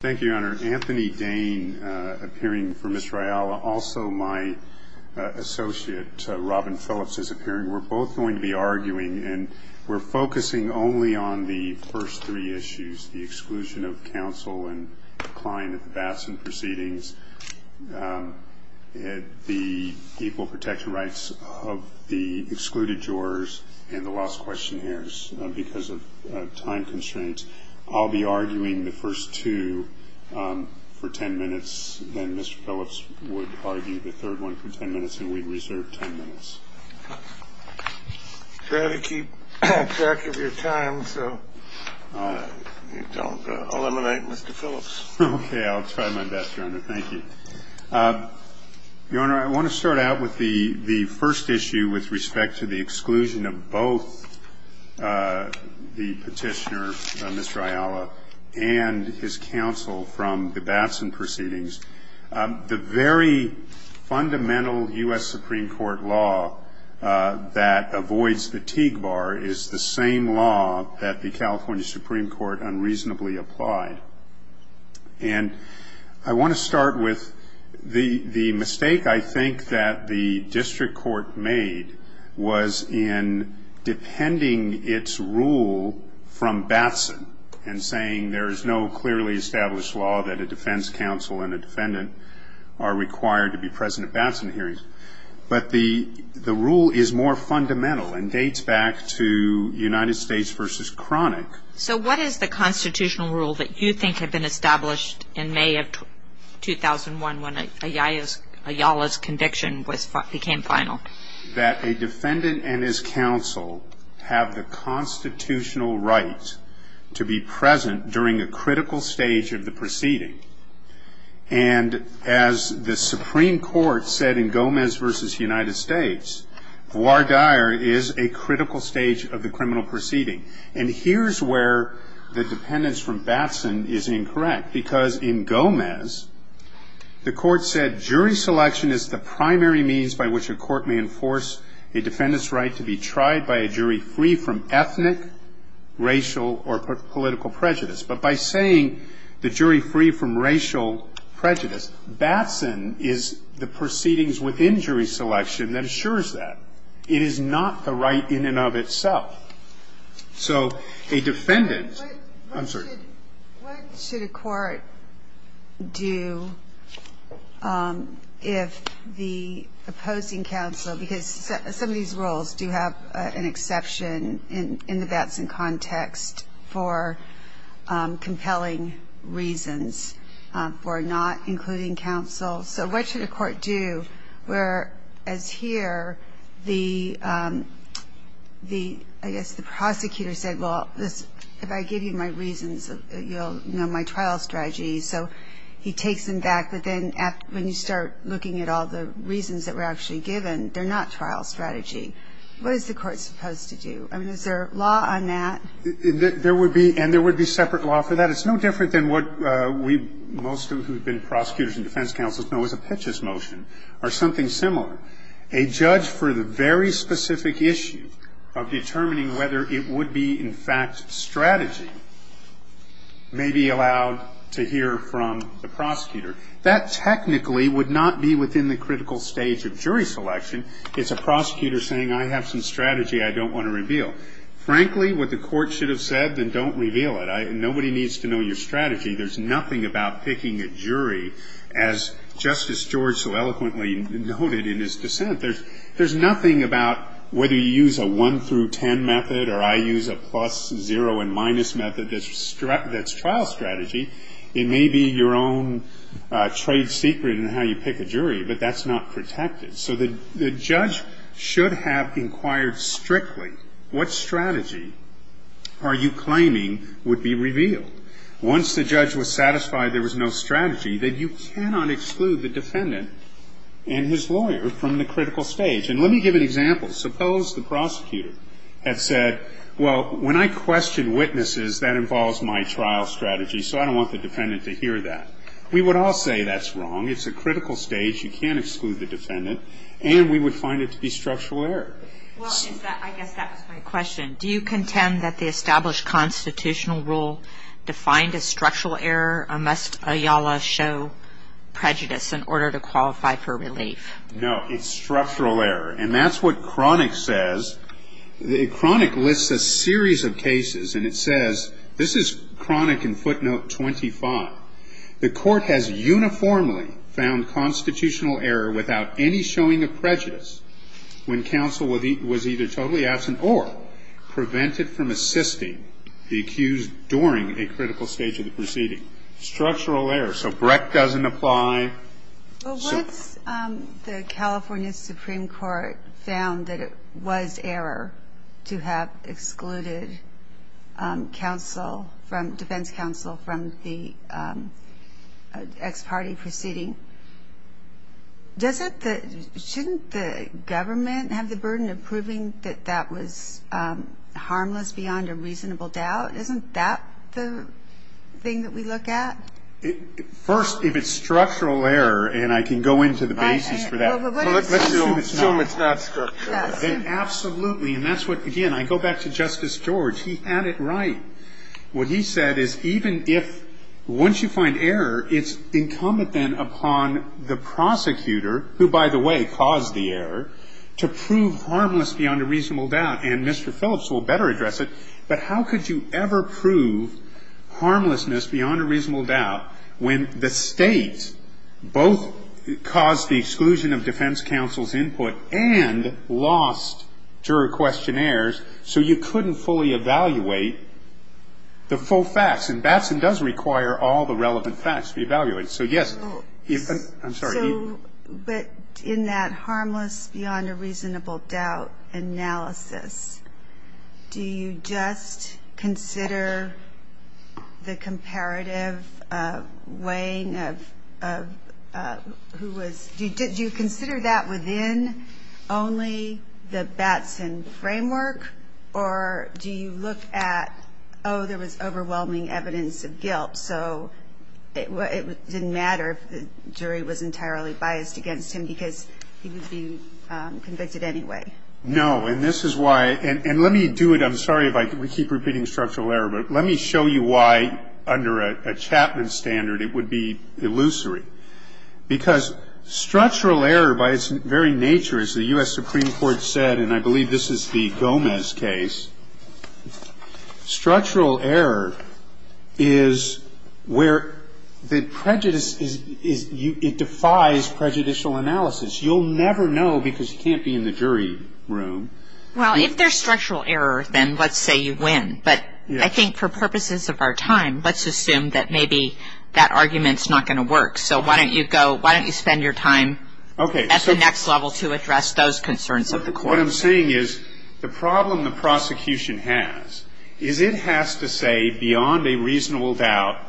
Thank you, Your Honor. Anthony Dane, appearing for Mr. Ayala. Also my associate, Robin Phillips, is appearing. We're both going to be arguing, and we're focusing only on the first three issues, the exclusion of counsel and decline of the Batson proceedings, the equal protection rights of the excluded jurors, and the lost questionnaires because of time constraints. I'll be arguing the first two for 10 minutes, then Mr. Phillips would argue the third one for 10 minutes, and we'd reserve 10 minutes. You better keep track of your time so you don't eliminate Mr. Phillips. Okay, I'll try my best, Your Honor. Thank you. Your Honor, I want to start out with the first issue with respect to the exclusion of both the petitioner, Mr. Ayala, and his counsel from the Batson proceedings. The very fundamental U.S. Supreme Court law that avoids the Teague Bar is the same law that the California Supreme Court unreasonably applied. And I want to start with the mistake I think that the district court made was in defending its rule from Batson and saying there is no clearly established law that a defense counsel and a defendant are required to be present at Batson hearings. But the rule is more fundamental and dates back to United States v. Cronic. So what is the constitutional rule that you think had been established in May of 2001 when Ayala's conviction became final? That a defendant and his counsel have the constitutional right to be present during a critical stage of the proceeding. And as the Supreme Court said in Gomez v. United States, voir dire is a critical stage of the criminal proceeding. And here's where the dependence from Batson is incorrect. Because in Gomez, the court said jury selection is the primary means by which a court may enforce a defendant's right to be tried by a jury free from ethnic, racial, or political prejudice. But by saying the jury free from racial prejudice, Batson is the proceedings within jury selection that assures that. It is not the right in and of itself. So a defendant, I'm sorry. What should a court do if the opposing counsel, because some of these rules do have an exception in the Batson context for compelling reasons for not including counsel. So what should a court do where, as here, the, I guess the prosecutor said, well, if I give you my reasons, you'll know my trial strategy. So he takes them back. But then when you start looking at all the reasons that were actually given, they're not trial strategy. What is the court supposed to do? I mean, is there a law on that? There would be, and there would be separate law for that. It's no different than what we, most of who have been prosecutors and defense counsels, know is a Pitchess motion or something similar. A judge for the very specific issue of determining whether it would be, in fact, strategy may be allowed to hear from the prosecutor. That technically would not be within the critical stage of jury selection. It's a prosecutor saying, I have some strategy I don't want to reveal. Frankly, what the court should have said, then don't reveal it. Nobody needs to know your strategy. There's nothing about picking a jury, as Justice George so eloquently noted in his dissent. There's nothing about whether you use a one through ten method or I use a plus zero and minus method that's trial strategy. It may be your own trade secret in how you pick a jury, but that's not protected. So the judge should have inquired strictly, what strategy are you claiming would be revealed? Once the judge was satisfied there was no strategy, then you cannot exclude the defendant and his lawyer from the critical stage. And let me give an example. Suppose the prosecutor had said, well, when I question witnesses, that involves my trial strategy. So I don't want the defendant to hear that. We would all say that's wrong. It's a critical stage. You can't exclude the defendant. And we would find it to be structural error. Well, I guess that was my question. Do you contend that the established constitutional rule defined as structural error? Must a YALA show prejudice in order to qualify for relief? No, it's structural error. And that's what Cronick says. Cronick lists a series of cases and it says, this is Cronick in footnote 25. The court has uniformly found constitutional error without any showing of prejudice when counsel was either totally absent or prevented from assisting the accused during a critical stage of the proceeding. Structural error. So Breck doesn't apply. Well, once the California Supreme Court found that it was error to have excluded counsel from defense counsel from the ex parte proceeding. Doesn't that shouldn't the government have the burden of proving that that was harmless beyond a reasonable doubt? Isn't that the thing that we look at? First, if it's structural error and I can go into the basis for that. Let's assume it's not. Let's assume it's not structural. Absolutely. And that's what, again, I go back to Justice George. He had it right. What he said is even if once you find error, it's incumbent then upon the prosecutor, who, by the way, caused the error, to prove harmless beyond a reasonable doubt. And Mr. Phillips will better address it. But how could you ever prove harmlessness beyond a reasonable doubt when the State both caused the exclusion of defense counsel's input and lost jury questionnaires so you couldn't fully evaluate the full facts? And Batson does require all the relevant facts to be evaluated. So, yes. I'm sorry. So, but in that harmless beyond a reasonable doubt analysis, do you just consider the comparative weighing of who was, do you consider that within only the Batson framework or do you look at, oh, there was overwhelming evidence of guilt. So it didn't matter if the jury was entirely biased against him because he would be convicted anyway. No. And this is why, and let me do it. I'm sorry if I keep repeating structural error, but let me show you why under a Chapman standard it would be illusory. Because structural error by its very nature, as the U.S. Supreme Court said, and I believe this is the Gomez case, structural error is where the prejudice is, it defies prejudicial analysis. You'll never know because you can't be in the jury room. Well, if there's structural error, then let's say you win. But I think for purposes of our time, let's assume that maybe that argument's not going to work. So why don't you go, why don't you spend your time at the next level to address those concerns of the court? What I'm saying is the problem the prosecution has is it has to say beyond a reasonable doubt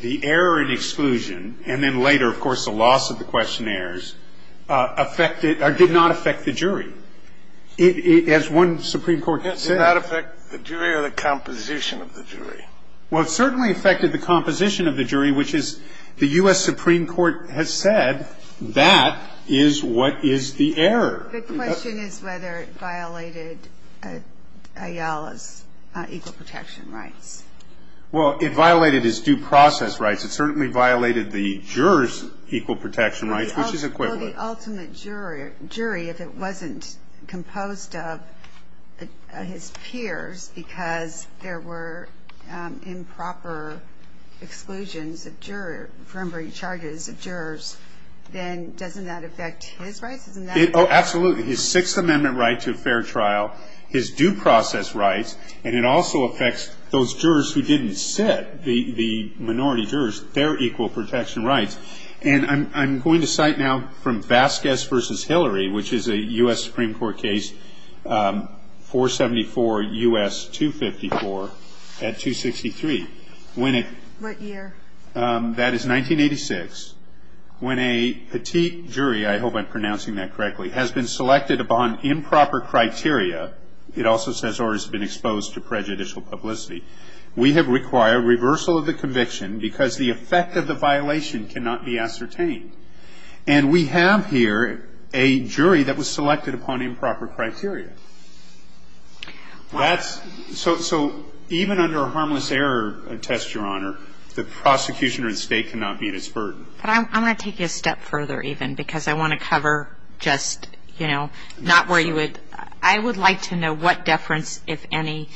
the error and exclusion, and then later, of course, the loss of the questionnaires, affected or did not affect the jury. As one Supreme Court said. Did it not affect the jury or the composition of the jury? Well, it certainly affected the composition of the jury, which is the U.S. Supreme Court has said that is what is the error. The question is whether it violated Ayala's equal protection rights. Well, it violated his due process rights. It certainly violated the juror's equal protection rights, which is equivalent. Well, the ultimate jury, if it wasn't composed of his peers because there were improper exclusions of jury, preliminary charges of jurors, then doesn't that affect his rights? Oh, absolutely. His Sixth Amendment right to a fair trial, his due process rights, and it also affects those jurors who didn't sit, the minority jurors, their equal protection rights. And I'm going to cite now from Vasquez v. Hillary, which is a U.S. Supreme Court case, 474 U.S. 254 at 263. What year? That is 1986. When a petite jury, I hope I'm pronouncing that correctly, has been selected upon improper criteria, it also says or has been exposed to prejudicial publicity. We have required reversal of the conviction because the effect of the violation cannot be ascertained. And we have here a jury that was selected upon improper criteria. So even under a harmless error test, Your Honor, the prosecution or the State cannot meet its burden. But I want to take you a step further even because I want to cover just, you know, not where you would ‑‑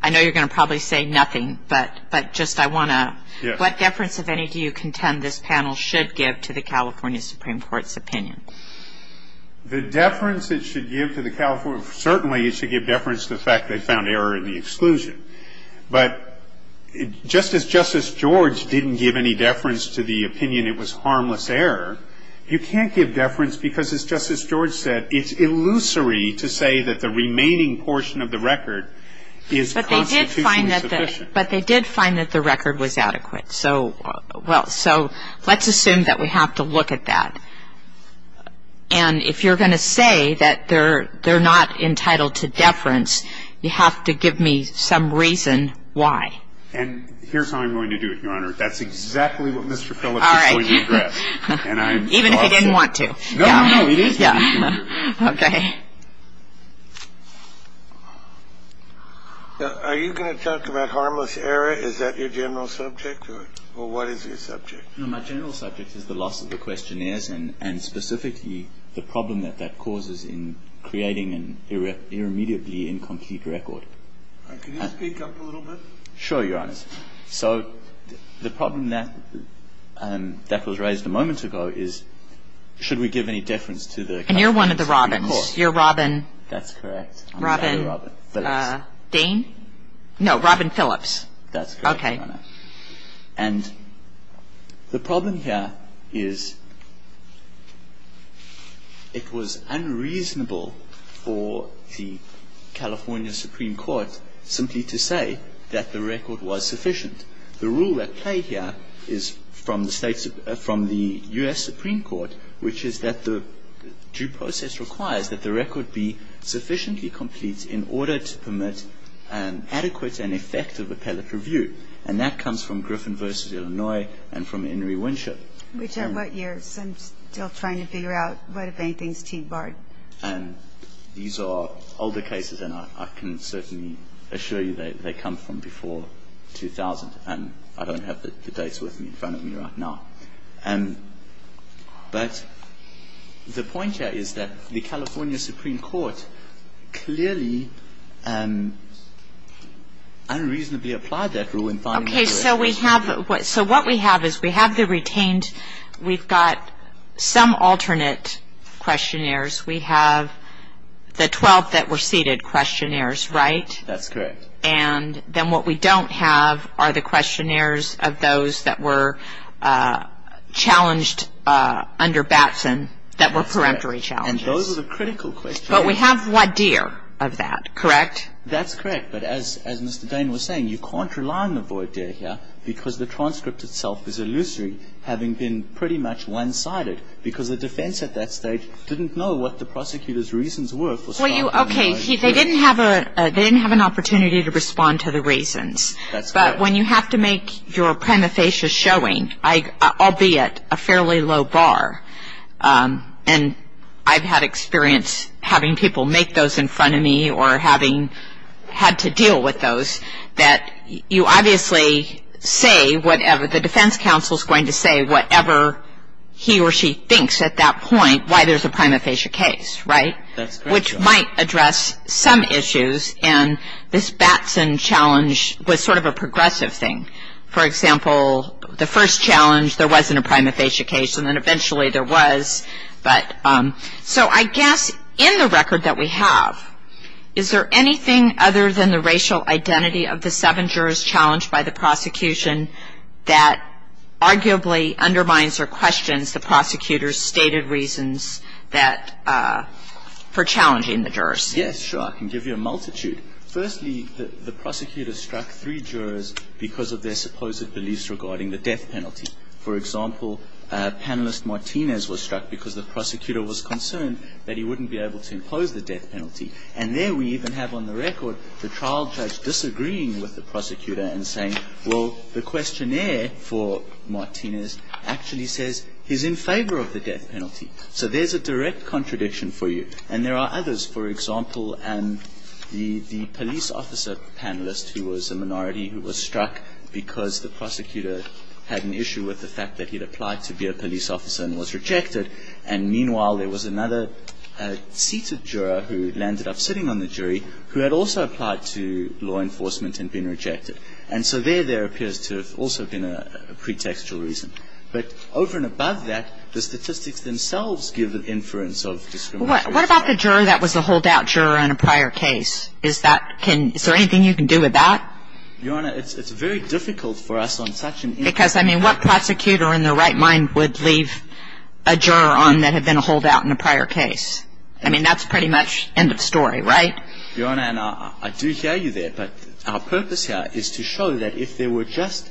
I know you're going to probably say nothing, but just I want to ‑‑ Yes. What deference, if any, do you contend this panel should give to the California Supreme Court's opinion? The deference it should give to the California ‑‑ certainly it should give deference to the fact they found error in the exclusion. But just as Justice George didn't give any deference to the opinion it was harmless error, you can't give deference because, as Justice George said, it's illusory to say that the remaining portion of the record is constitutionally sufficient. But they did find that the record was adequate. So let's assume that we have to look at that. And if you're going to say that they're not entitled to deference, you have to give me some reason why. And here's how I'm going to do it, Your Honor. That's exactly what Mr. Phillips is going to address. All right. Even if he didn't want to. No, no, no. Please, yeah. Okay. Are you going to talk about harmless error? Is that your general subject? Or what is your subject? No, my general subject is the loss of the questionnaires and specifically the problem that that causes in creating an irremediably incomplete record. Can you speak up a little bit? Sure, Your Honor. So the problem that was raised a moment ago is should we give any deference to the California Supreme Court? And you're one of the Robins. You're Robin. That's correct. Robin. Robin Phillips. Dane? No, Robin Phillips. That's correct, Your Honor. Okay. And the problem here is it was unreasonable for the California Supreme Court simply to say that the record was sufficient. The rule at play here is from the U.S. Supreme Court, which is that the due process requires that the record be sufficiently complete in order to permit an adequate and effective appellate review. And that comes from Griffin v. Illinois and from Henry Winship. Which are what years? I'm still trying to figure out what, if anything, is team barred. And these are older cases, and I can certainly assure you they come from before 2000. And I don't have the dates with me in front of me right now. But the point here is that the California Supreme Court clearly unreasonably applied that rule. Okay. So what we have is we have the retained. We've got some alternate questionnaires. We have the 12 that were seated questionnaires, right? That's correct. And then what we don't have are the questionnaires of those that were challenged under Batson that were peremptory challenges. And those are the critical questionnaires. But we have voir dire of that, correct? That's correct. But as Mr. Dane was saying, you can't rely on the voir dire here because the transcript itself is illusory, having been pretty much one-sided because the defense at that stage didn't know what the prosecutor's reasons were. They didn't have an opportunity to respond to the reasons. But when you have to make your prima facie showing, albeit a fairly low bar, and I've had experience having people make those in front of me or having had to deal with those, that you obviously say whatever the defense counsel is going to say, whatever he or she thinks at that point, why there's a prima facie case, right? That's correct. Which might address some issues, and this Batson challenge was sort of a progressive thing. For example, the first challenge, there wasn't a prima facie case, and then eventually there was. So I guess in the record that we have, is there anything other than the racial identity of the seven jurors challenged by the prosecution that arguably undermines or questions the prosecutor's stated reasons that for challenging the jurors? Yes, sure. I can give you a multitude. Firstly, the prosecutor struck three jurors because of their supposed beliefs regarding the death penalty. For example, panelist Martinez was struck because the prosecutor was concerned that he wouldn't be able to impose the death penalty. And there we even have on the record the trial judge disagreeing with the prosecutor and saying, well, the questionnaire for Martinez actually says he's in favor of the death penalty. So there's a direct contradiction for you. And there are others. For example, the police officer panelist who was a minority, who was struck because the prosecutor had an issue with the fact that he'd applied to be a police officer and was rejected, and meanwhile there was another seated juror who landed up sitting on the jury who had also applied to law enforcement and been rejected. And so there there appears to have also been a pretextual reason. But over and above that, the statistics themselves give an inference of discrimination. What about the juror that was a holdout juror in a prior case? Is that can ‑‑ is there anything you can do with that? Your Honor, it's very difficult for us on such an issue. Because, I mean, what prosecutor in their right mind would leave a juror on that had been a holdout in a prior case? I mean, that's pretty much end of story, right? Your Honor, and I do hear you there. But our purpose here is to show that if there were just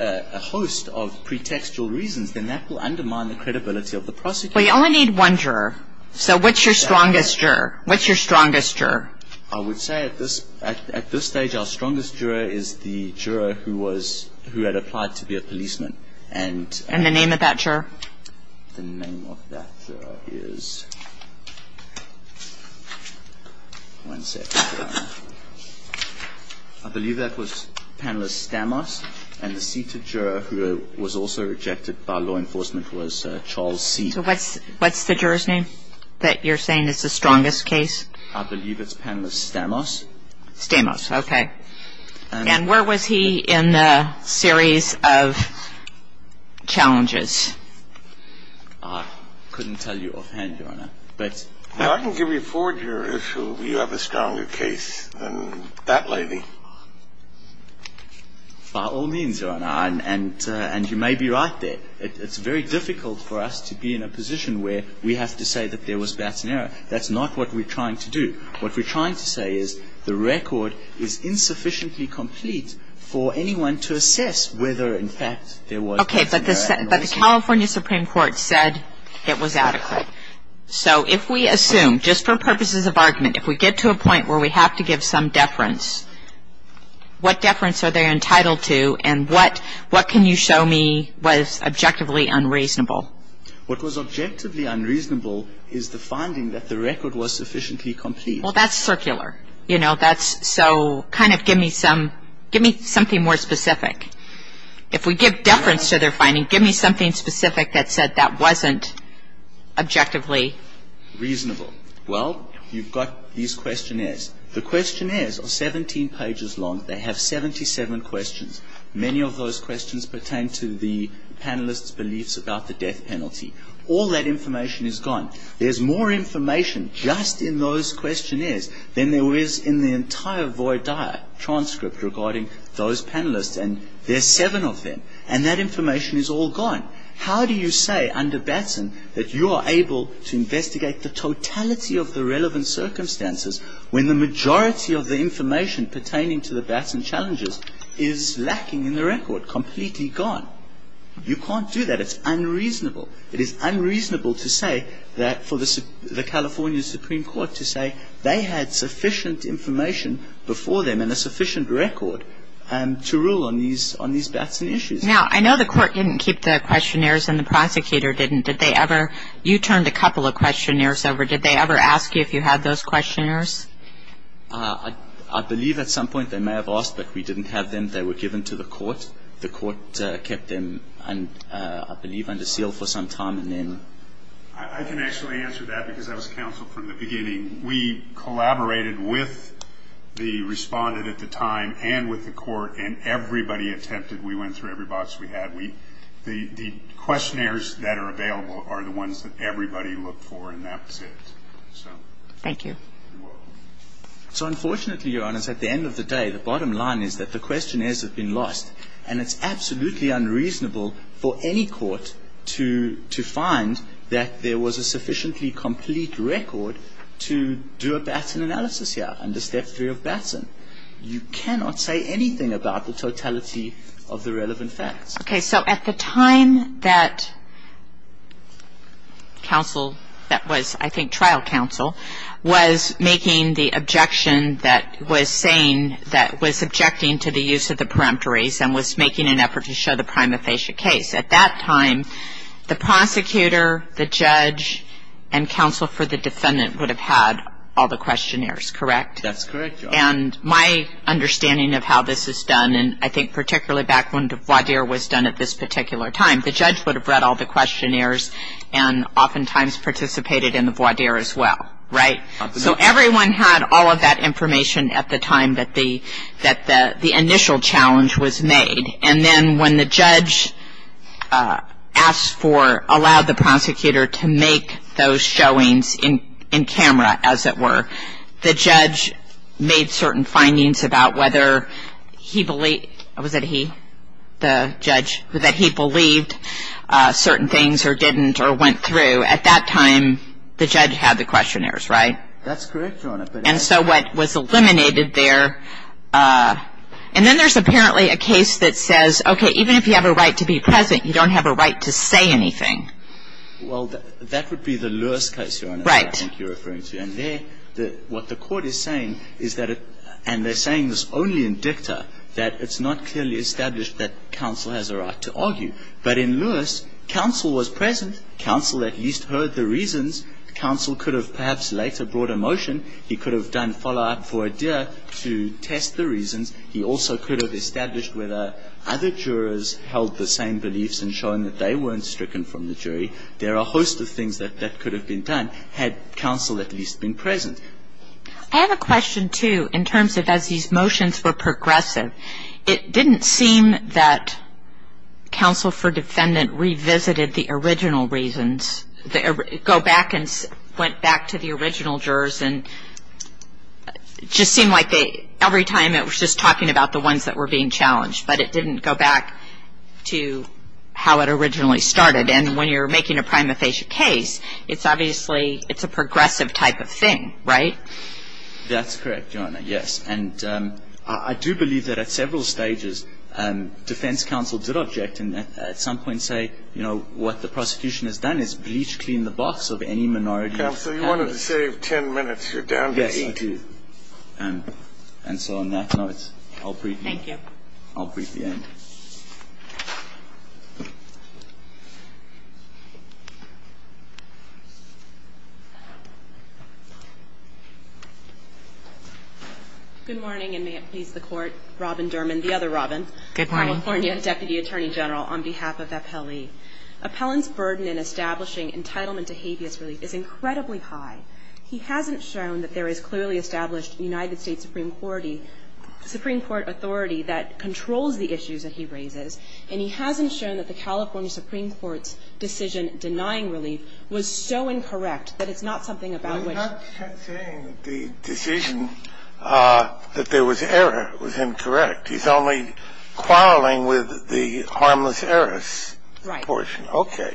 a host of pretextual reasons, then that will undermine the credibility of the prosecutor. Well, you only need one juror. So what's your strongest juror? What's your strongest juror? I would say at this ‑‑ at this stage, our strongest juror is the juror who was ‑‑ who had applied to be a policeman. And ‑‑ And the name of that juror? The name of that juror is ‑‑ one second, Your Honor. I believe that was Panelist Stamos. And the seated juror who was also rejected by law enforcement was Charles C. So what's the juror's name that you're saying is the strongest case? I believe it's Panelist Stamos. Stamos. Okay. And where was he in the series of challenges? I couldn't tell you offhand, Your Honor. But ‑‑ I can give you a four-juror if you have a stronger case than that lady. By all means, Your Honor. And you may be right there. It's very difficult for us to be in a position where we have to say that there was bouts in error. That's not what we're trying to do. What we're trying to say is the record is insufficiently complete for anyone to assess whether, in fact, there was bouts in error. Okay. But the California Supreme Court said it was adequate. So if we assume, just for purposes of argument, if we get to a point where we have to give some deference, what deference are they entitled to and what can you show me was objectively unreasonable? What was objectively unreasonable is the finding that the record was sufficiently complete. Well, that's circular. You know, that's ‑‑ so kind of give me some ‑‑ give me something more specific. If we give deference to their finding, give me something specific that said that wasn't objectively reasonable. Well, you've got these questionnaires. The questionnaires are 17 pages long. They have 77 questions. Many of those questions pertain to the panelists' beliefs about the death penalty. All that information is gone. There's more information just in those questionnaires than there is in the entire void transcript regarding those panelists and there's seven of them and that information is all gone. How do you say under Batson that you are able to investigate the totality of the relevant circumstances when the majority of the information pertaining to the Batson challenges is lacking in the record, completely gone? You can't do that. It's unreasonable. It is unreasonable to say that for the California Supreme Court to say they had sufficient information before them and a sufficient record to rule on these Batson issues. Now, I know the court didn't keep the questionnaires and the prosecutor didn't. Did they ever ‑‑ you turned a couple of questionnaires over. Did they ever ask you if you had those questionnaires? I believe at some point they may have asked, but we didn't have them. They were given to the court. The court kept them, I believe, under seal for some time and then ‑‑ I can actually answer that because I was counsel from the beginning. We collaborated with the respondent at the time and with the court and everybody attempted. We went through every box we had. The questionnaires that are available are the ones that everybody looked for and that's it. Thank you. You're welcome. So unfortunately, Your Honors, at the end of the day, the bottom line is that the questionnaires have been lost and it's absolutely unreasonable for any court to find that there was a sufficiently complete record to do a Batson analysis here under Step 3 of Batson. You cannot say anything about the totality of the relevant facts. Okay. So at the time that counsel that was, I think, trial counsel, was making the objection that was saying that was objecting to the use of the peremptories and was making an effort to show the prima facie case. At that time, the prosecutor, the judge, and counsel for the defendant would have had all the questionnaires, correct? That's correct, Your Honor. And my understanding of how this is done, and I think particularly back when the voir dire was done at this particular time, the judge would have read all the questionnaires and oftentimes participated in the voir dire as well, right? Absolutely. So everyone had all of that information at the time that the initial challenge was made. And then when the judge asked for, allowed the prosecutor to make those showings in camera, as it were, the judge made certain findings about whether he believed, was it he, the judge, that he believed certain things or didn't or went through. At that time, the judge had the questionnaires, right? That's correct, Your Honor. And so what was eliminated there, and then there's apparently a case that says, okay, even if you have a right to be present, you don't have a right to say anything. Well, that would be the Lewis case, Your Honor, I think you're referring to. Right. And there, what the Court is saying is that it, and they're saying this only in dicta, that it's not clearly established that counsel has a right to argue. But in Lewis, counsel was present. Counsel could have perhaps later brought a motion. He could have done follow-up for Adair to test the reasons. He also could have established whether other jurors held the same beliefs in showing that they weren't stricken from the jury. There are a host of things that could have been done had counsel at least been present. I have a question, too, in terms of as these motions were progressive. It didn't seem that counsel for defendant revisited the original reasons, go back and went back to the original jurors, and it just seemed like every time it was just talking about the ones that were being challenged. But it didn't go back to how it originally started. And when you're making a prima facie case, it's obviously, it's a progressive type of thing, right? That's correct, Your Honor, yes. And I do believe that at several stages defense counsel did object and at some point say, you know, what the prosecution has done is bleach clean the box of any minority. Counsel, you wanted to save 10 minutes. You're down to 18. Yes, I do. And so on that note, I'll brief you. Thank you. I'll brief the end. Good morning, and may it please the Court. Robin Derman, the other Robin. Good morning. California Deputy Attorney General on behalf of Appellee. Appellant's burden in establishing entitlement to habeas relief is incredibly high. He hasn't shown that there is clearly established United States Supreme Court authority that controls the issues that he raises, and he hasn't shown that the California Supreme Court's decision denying relief was so incorrect that it's not something about which the decision that there was error was incorrect. He's only quarreling with the harmless heiress. So I think it's worth it. So I'm just going to give you this portion. Okay.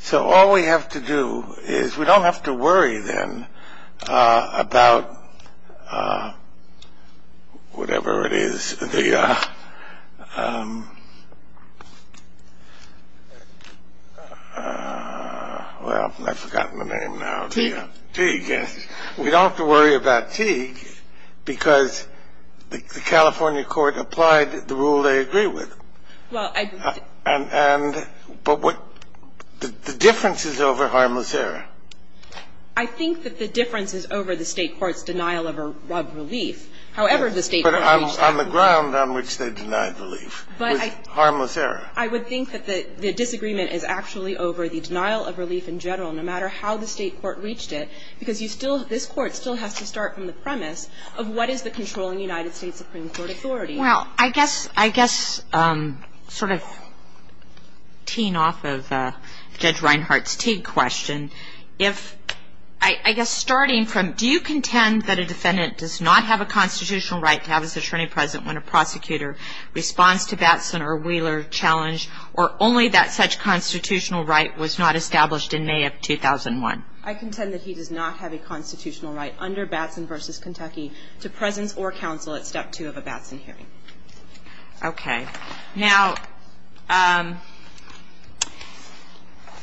So all we have to do is we don't have to worry, then, about whatever it is, the ‑‑ But what ‑‑ the difference is over harmless error. I think that the difference is over the State court's denial of relief, however the State court reached that relief. But on the ground on which they denied relief was harmless error. I would think that the disagreement is actually over the denial of relief in general, no matter how the State court reached it, because you still ‑‑ this Court still has to start from the premise of what is the controlling United States Supreme Court authority. Well, I guess sort of teeing off of Judge Reinhart's Teague question, if ‑‑ I guess starting from do you contend that a defendant does not have a constitutional right to have his attorney present when a prosecutor responds to Batson or Wheeler challenge, or only that such constitutional right was not established in May of 2001? I contend that he does not have a constitutional right under Batson v. Kentucky to presence or counsel at step two of a Batson hearing. Okay. Now,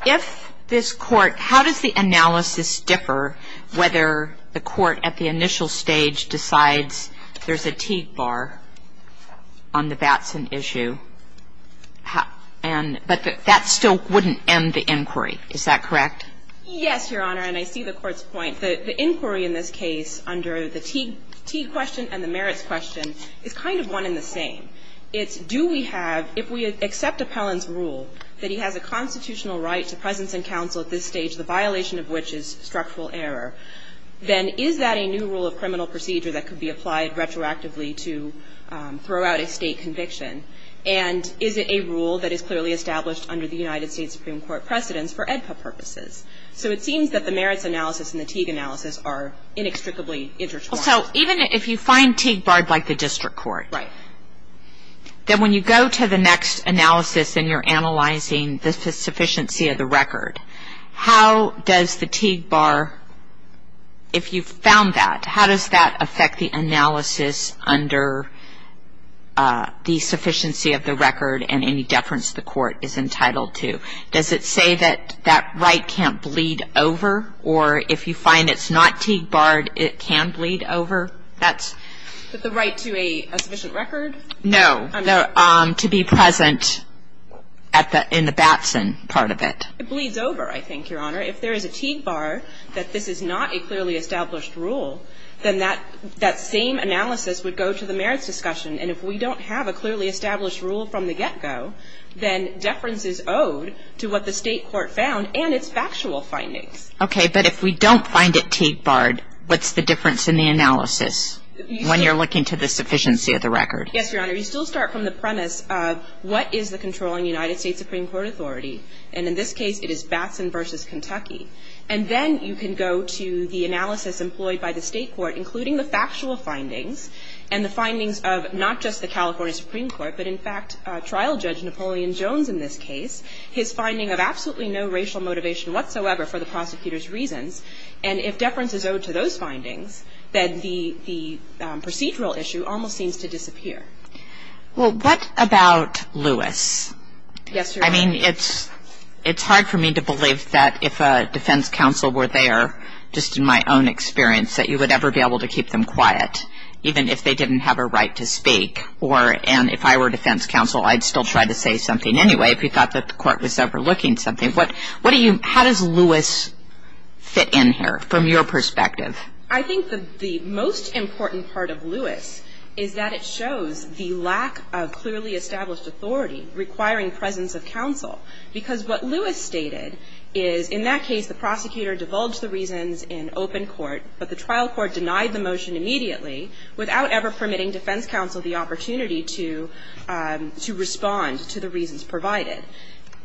if this Court ‑‑ how does the analysis differ whether the Court at the initial stage decides there's a Teague bar on the Batson issue? But that still wouldn't end the inquiry, is that correct? Yes, Your Honor, and I see the Court's point. The inquiry in this case under the Teague question and the merits question is kind of one and the same. It's do we have ‑‑ if we accept Appellant's rule that he has a constitutional right to presence and counsel at this stage, the violation of which is structural error, then is that a new rule of criminal procedure that could be applied retroactively to throw out a State conviction? And is it a rule that is clearly established under the United States Supreme Court precedence for AEDPA purposes? So it seems that the merits analysis and the Teague analysis are inextricably intertwined. So even if you find Teague barred by the district court, then when you go to the next analysis and you're analyzing the sufficiency of the record, how does the Teague bar, if you've found that, how does that affect the analysis under the sufficiency of the record and any deference the Court is entitled to? Does it say that that right can't bleed over? Or if you find it's not Teague barred, it can bleed over? That's ‑‑ The right to a sufficient record? No. To be present at the ‑‑ in the Batson part of it. It bleeds over, I think, Your Honor. If there is a Teague bar that this is not a clearly established rule, then that same analysis would go to the merits discussion. And if we don't have a clearly established rule from the get‑go, then deference is owed to what the State court found and its factual findings. Okay. But if we don't find it Teague barred, what's the difference in the analysis when you're looking to the sufficiency of the record? Yes, Your Honor. You still start from the premise of what is the controlling United States Supreme Court authority. And in this case, it is Batson v. Kentucky. And then you can go to the analysis employed by the State court, including the factual findings, and the findings of not just the California Supreme Court, but, in fact, trial judge Napoleon Jones in this case, his finding of absolutely no racial motivation whatsoever for the prosecutor's reasons. And if deference is owed to those findings, then the procedural issue almost seems to disappear. Well, what about Lewis? Yes, Your Honor. I mean, it's hard for me to believe that if a defense counsel were there, just in my own experience, that you would ever be able to keep them quiet, even if they didn't have a right to speak. And if I were a defense counsel, I'd still try to say something anyway, if you thought that the court was overlooking something. How does Lewis fit in here from your perspective? I think the most important part of Lewis is that it shows the lack of clearly established authority requiring presence of counsel. Because what Lewis stated is, in that case, the prosecutor divulged the reasons in open court, but the trial court denied the motion immediately without ever permitting defense counsel the opportunity to respond to the reasons provided.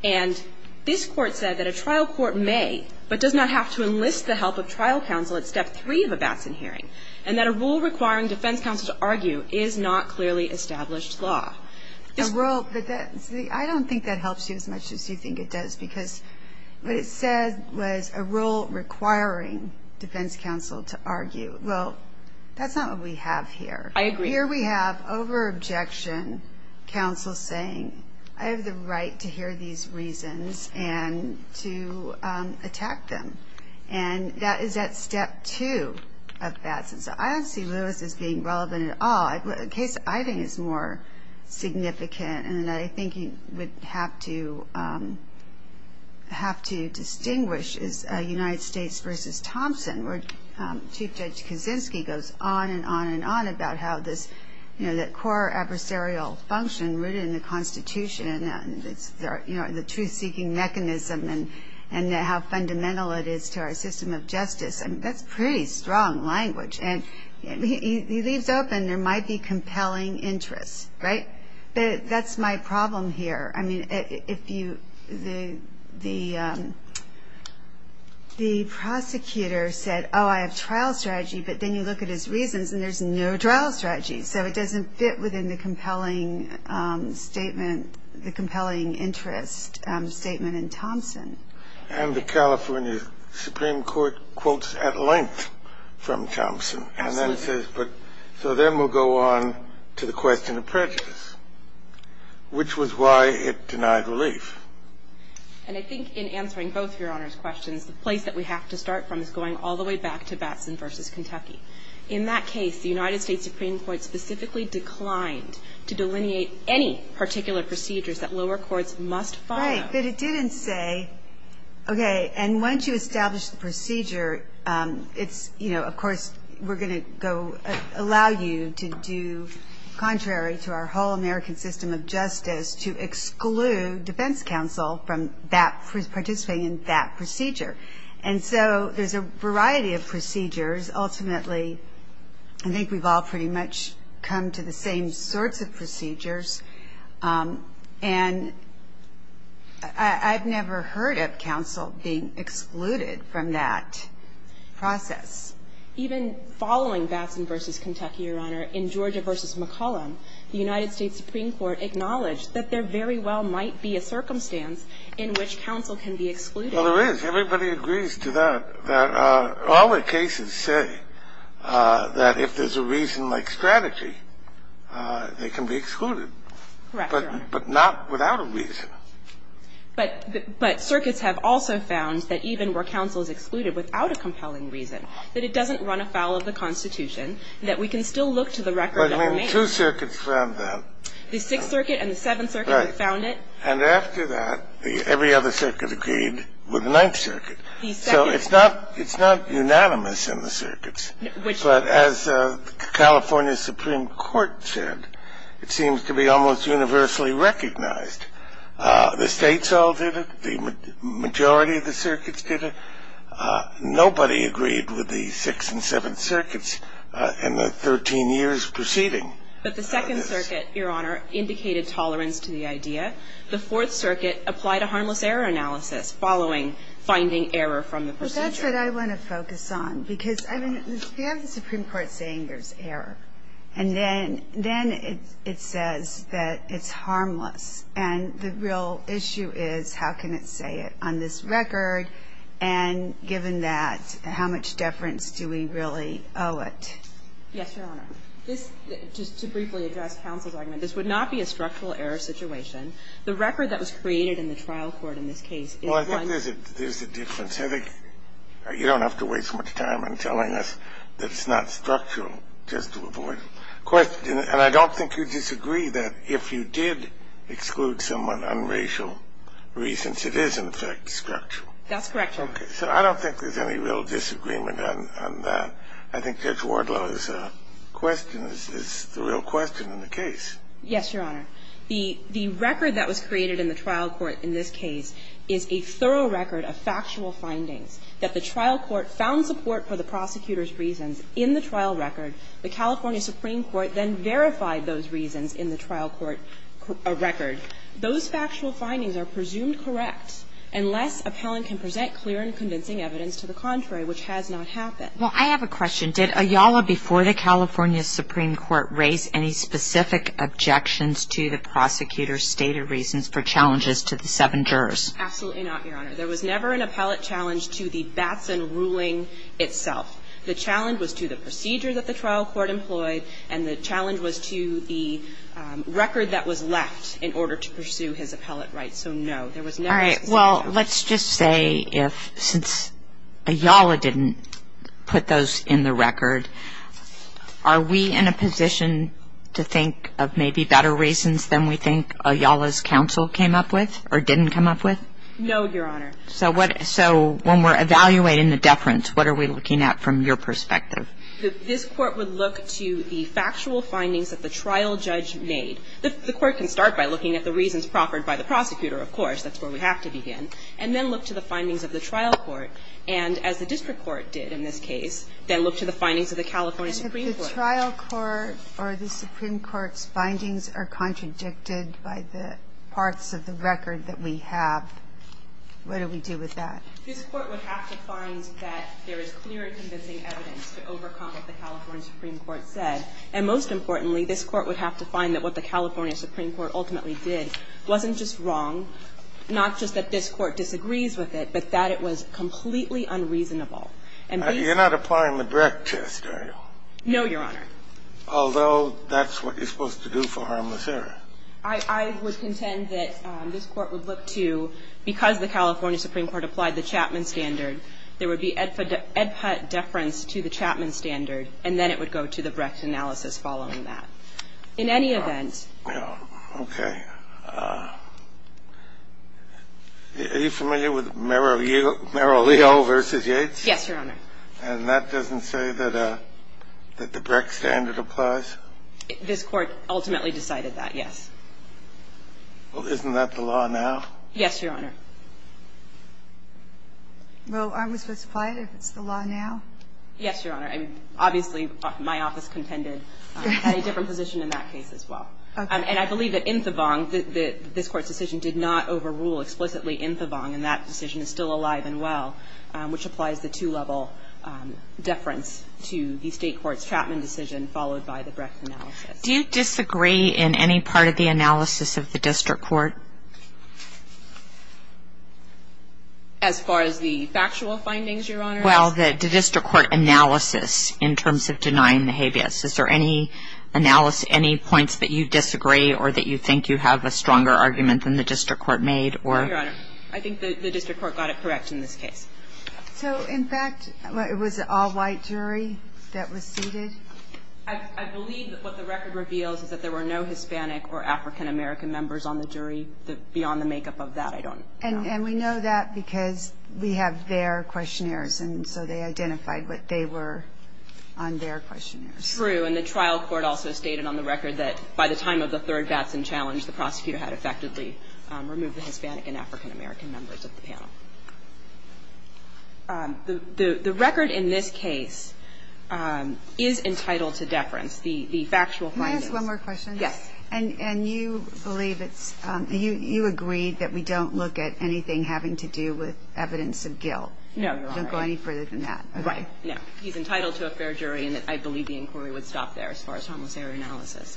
And this Court said that a trial court may, but does not have to enlist the help of trial counsel at step three of a Batson hearing, and that a rule requiring defense counsel to argue is not clearly established law. A rule, but that's the – I don't think that helps you as much as you think it does, because what it said was a rule requiring defense counsel to argue. Well, that's not what we have here. I agree. Here we have over-objection counsel saying, I have the right to hear these reasons and to attack them. And that is at step two of Batson. So I don't see Lewis as being relevant at all. A case I think is more significant, and I think you would have to distinguish, is United States v. Thompson, where Chief Judge Kaczynski goes on and on and on about how this core adversarial function rooted in the Constitution, and the truth-seeking mechanism, and how fundamental it is to our system of justice. I mean, that's pretty strong language. And he leaves open there might be compelling interests, right? But that's my problem here. I mean, if you – the prosecutor said, oh, I have trial strategy, but then you look at his reasons, and there's no trial strategy. So it doesn't fit within the compelling statement, the compelling interest statement in Thompson. And the California Supreme Court quotes at length from Thompson. Absolutely. And then it says, but – so then we'll go on to the question of prejudice, which was why it denied relief. And I think in answering both Your Honor's questions, the place that we have to start from is going all the way back to Batson v. Kentucky. In that case, the United States Supreme Court specifically declined to delineate any particular procedures that lower courts must follow. Right, but it didn't say, okay, and once you establish the procedure, it's, you know, of course we're going to go allow you to do contrary to our whole American system of justice to exclude defense counsel from participating in that procedure. And so there's a variety of procedures. Ultimately, I think we've all pretty much come to the same sorts of procedures. And I've never heard of counsel being excluded from that process. Even following Batson v. Kentucky, Your Honor, in Georgia v. McCollum, the United States Supreme Court acknowledged that there very well might be a circumstance in which counsel can be excluded. Well, there is. Everybody agrees to that. All the cases say that if there's a reason like strategy, they can be excluded. Correct, Your Honor. But not without a reason. But circuits have also found that even where counsel is excluded without a compelling reason, that it doesn't run afoul of the Constitution, that we can still look to the record that remains. I mean, two circuits found that. The Sixth Circuit and the Seventh Circuit found it. Right. And after that, every other circuit agreed with the Ninth Circuit. So it's not unanimous in the circuits. But as California's Supreme Court said, it seems to be almost universally recognized. The states all did it. The majority of the circuits did it. Nobody agreed with the Sixth and Seventh Circuits in the 13 years preceding. But the Second Circuit, Your Honor, indicated tolerance to the idea. The Fourth Circuit applied a harmless error analysis following finding error from Well, that's what I want to focus on. Because, I mean, you have the Supreme Court saying there's error. And then it says that it's harmless. And the real issue is how can it say it on this record? And given that, how much deference do we really owe it? Yes, Your Honor. This, just to briefly address counsel's argument, this would not be a structural error situation. The record that was created in the trial court in this case is one of the Well, I think there's a difference. I think you don't have to waste much time on telling us that it's not structural just to avoid a question. And I don't think you disagree that if you did exclude somewhat unracial reasons, it is, in fact, structural. That's correct, Your Honor. Okay. So I don't think there's any real disagreement on that. I think Judge Wardlow's question is the real question in the case. Yes, Your Honor. The record that was created in the trial court in this case is a thorough record of factual findings, that the trial court found support for the prosecutor's reasons in the trial record. The California Supreme Court then verified those reasons in the trial court record. Those factual findings are presumed correct unless appellant can present clear and convincing evidence to the contrary, which has not happened. Well, I have a question. Did Ayala, before the California Supreme Court, raise any specific objections to the prosecutor's stated reasons for challenges to the seven jurors? Absolutely not, Your Honor. There was never an appellate challenge to the Batson ruling itself. The challenge was to the procedure that the trial court employed, and the challenge was to the record that was left in order to pursue his appellate rights. So, no, there was never such a challenge. Well, let's just say if, since Ayala didn't put those in the record, are we in a position to think of maybe better reasons than we think Ayala's counsel came up with or didn't come up with? No, Your Honor. So when we're evaluating the deference, what are we looking at from your perspective? This Court would look to the factual findings that the trial judge made. The Court can start by looking at the reasons proffered by the prosecutor, of course. That's where we have to begin. And then look to the findings of the trial court. And as the district court did in this case, then look to the findings of the California Supreme Court. And if the trial court or the Supreme Court's findings are contradicted by the parts of the record that we have, what do we do with that? This Court would have to find that there is clear and convincing evidence to overcome what the California Supreme Court said. And most importantly, this Court would have to find that what the California Supreme Court ultimately did wasn't just wrong, not just that this Court disagrees with it, but that it was completely unreasonable. And these are the reasons. You're not applying the Brecht test, are you? No, Your Honor. Although that's what you're supposed to do for harmless error. I would contend that this Court would look to, because the California Supreme Court applied the Chapman standard, there would be epideference to the Chapman standard, and then it would go to the Brecht analysis following that. In any event. Okay. Are you familiar with Merrill-Leo v. Yates? Yes, Your Honor. And that doesn't say that the Brecht standard applies? This Court ultimately decided that, yes. Well, isn't that the law now? Yes, Your Honor. Well, aren't we supposed to apply it if it's the law now? Yes, Your Honor. Obviously, my office contended I had a different position in that case as well. And I believe that Inthevong, this Court's decision did not overrule explicitly Inthevong, and that decision is still alive and well, which applies the two-level deference to the State court's Chapman decision followed by the Brecht analysis. Do you disagree in any part of the analysis of the district court? As far as the factual findings, Your Honor? Well, the district court analysis in terms of denying the habeas. Is there any points that you disagree or that you think you have a stronger argument than the district court made? Your Honor, I think the district court got it correct in this case. So, in fact, it was an all-white jury that was seated? I believe that what the record reveals is that there were no Hispanic or African-American members on the jury beyond the makeup of that. I don't know. And we know that because we have their questionnaires, and so they identified what they were on their questionnaires. True. And the trial court also stated on the record that by the time of the third Batson challenge, the prosecutor had effectively removed the Hispanic and African-American members of the panel. The record in this case is entitled to deference, the factual findings. Can I ask one more question? Yes. And you believe it's – you agree that we don't look at anything having to do with evidence of guilt. No, Your Honor. We don't go any further than that. Right. No. I believe that he's entitled to a fair jury, and I believe the inquiry would stop there as far as harmless error analysis.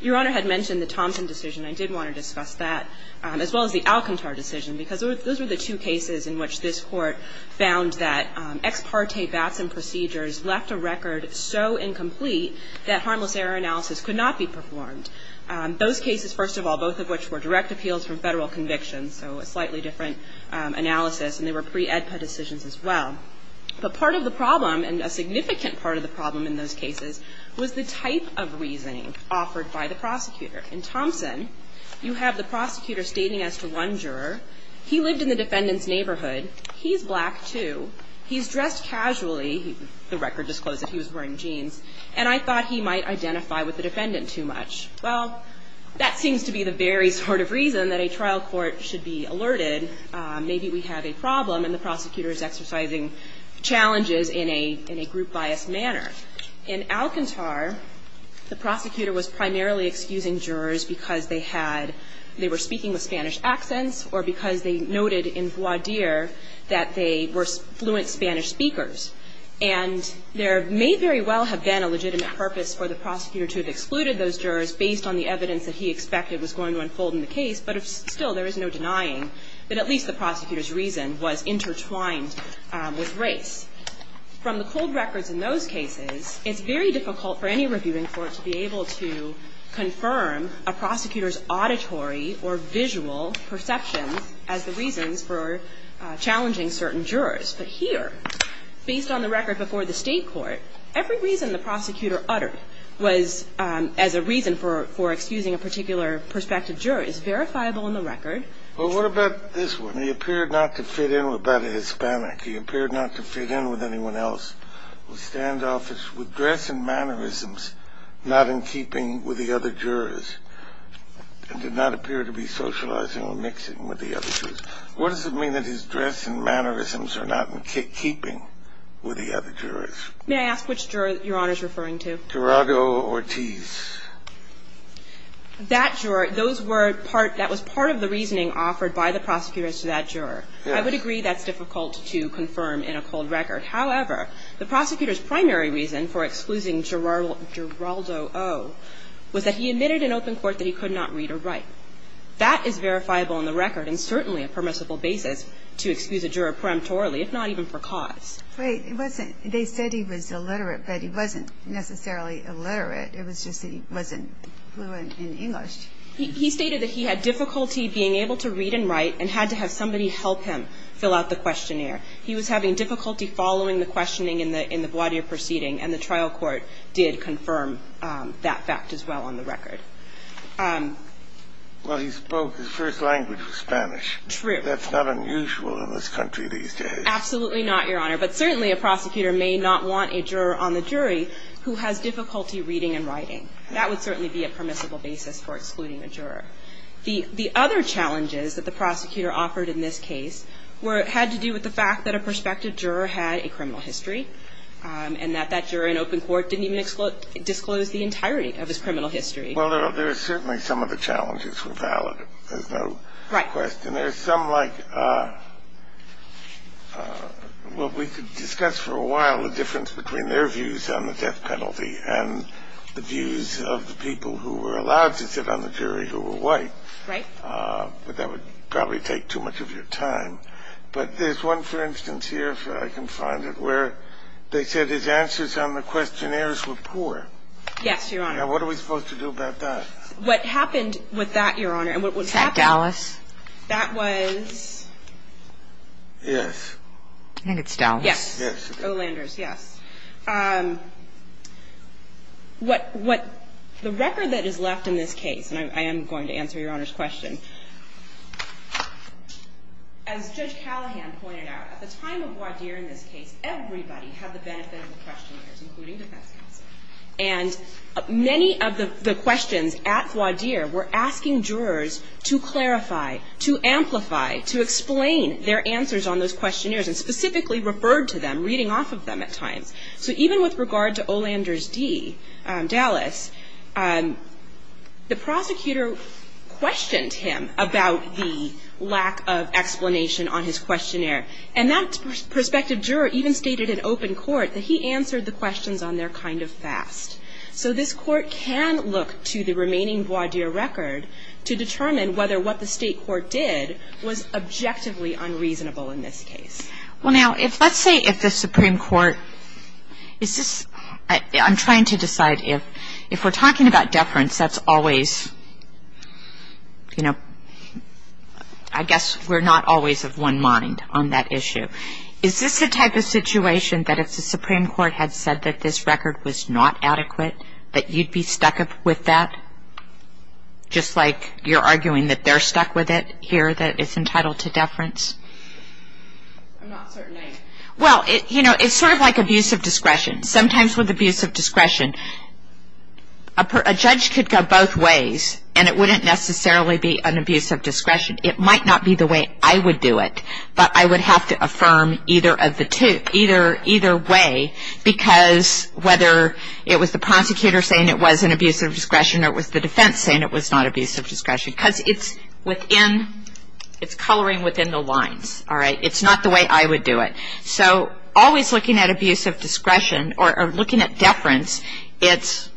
Your Honor had mentioned the Thompson decision. I did want to discuss that, as well as the Alcantar decision, because those were the two cases in which this Court found that ex parte Batson procedures left a record so incomplete that harmless error analysis could not be performed. Those cases, first of all, both of which were direct appeals from Federal convictions, so a slightly different analysis, and they were pre-AEDPA decisions as well. But part of the problem, and a significant part of the problem in those cases, was the type of reasoning offered by the prosecutor. In Thompson, you have the prosecutor stating as to one juror, he lived in the defendant's neighborhood, he's black, too, he's dressed casually, the record disclosed that he was wearing jeans, and I thought he might identify with the defendant too much. Well, that seems to be the very sort of reason that a trial court should be alerted In Alcantar, the prosecutor was primarily excusing jurors because they had they were speaking with Spanish accents or because they noted in voir dire that they were fluent Spanish speakers. And there may very well have been a legitimate purpose for the prosecutor to have excluded those jurors based on the evidence that he expected was going to unfold in the case. But here, at least the prosecutor's reason was intertwined with race. From the cold records in those cases, it's very difficult for any reviewing court to be able to confirm a prosecutor's auditory or visual perceptions as the reasons for challenging certain jurors. But here, based on the record before the State court, every reason the prosecutor uttered was as a reason for excusing a particular prospective juror is verifiable in the record. But what about this one? He appeared not to fit in with that Hispanic. He appeared not to fit in with anyone else. The standoff is with dress and mannerisms not in keeping with the other jurors and did not appear to be socializing or mixing with the other jurors. What does it mean that his dress and mannerisms are not in keeping with the other jurors? May I ask which juror Your Honor is referring to? Gerardo Ortiz. That juror, those were part, that was part of the reasoning offered by the prosecutors to that juror. I would agree that's difficult to confirm in a cold record. However, the prosecutor's primary reason for excluding Gerardo O was that he admitted in open court that he could not read or write. That is verifiable in the record and certainly a permissible basis to excuse a juror peremptorily, if not even for cause. Wait. It wasn't, they said he was illiterate, but he wasn't necessarily illiterate. It was just that he wasn't fluent in English. He stated that he had difficulty being able to read and write and had to have somebody help him fill out the questionnaire. He was having difficulty following the questioning in the, in the voir dire proceeding and the trial court did confirm that fact as well on the record. Well, he spoke, his first language was Spanish. True. That's not unusual in this country these days. Absolutely not, Your Honor, but certainly a prosecutor may not want a juror on the record to be able to read and write. That would certainly be a permissible basis for excluding a juror. The other challenges that the prosecutor offered in this case were, had to do with the fact that a prospective juror had a criminal history and that that juror in open court didn't even disclose the entirety of his criminal history. Well, there are certainly some of the challenges were valid. There's no question. Right. There's some like, well, we could discuss for a while the difference between their views of the people who were allowed to sit on the jury who were white. Right. But that would probably take too much of your time. But there's one, for instance, here, if I can find it, where they said his answers on the questionnaires were poor. Yes, Your Honor. Now, what are we supposed to do about that? What happened with that, Your Honor, and what was happening. Is that Dallas? That was. Yes. I think it's Dallas. Yes. Yes. Oh, Landers, yes. What, what, the record that is left in this case, and I am going to answer Your Honor's question. As Judge Callahan pointed out, at the time of Wadir in this case, everybody had the benefit of the questionnaires, including defense counsel. And many of the questions at Wadir were asking jurors to clarify, to amplify, to explain their answers on those questionnaires, and specifically referred to them, reading off of them at times. So even with regard to O. Landers D., Dallas, the prosecutor questioned him about the lack of explanation on his questionnaire. And that prospective juror even stated in open court that he answered the questions on there kind of fast. So this court can look to the remaining Wadir record to determine whether what the state court did was objectively unreasonable in this case. Well, now, if let's say if the Supreme Court, is this, I'm trying to decide if, if we're talking about deference, that's always, you know, I guess we're not always of one mind on that issue. Is this the type of situation that if the Supreme Court had said that this record was not adequate, that you'd be stuck with that? Just like you're arguing that they're stuck with it here, that it's entitled to deference? I'm not certain I am. Well, you know, it's sort of like abuse of discretion. Sometimes with abuse of discretion, a judge could go both ways, and it wouldn't necessarily be an abuse of discretion. It might not be the way I would do it, but I would have to affirm either way, because whether it was the prosecutor saying it was an abuse of discretion, or it was the defense saying it was not abuse of discretion. Because it's within, it's coloring within the lines, all right? It's not the way I would do it. So always looking at abuse of discretion, or looking at deference, it's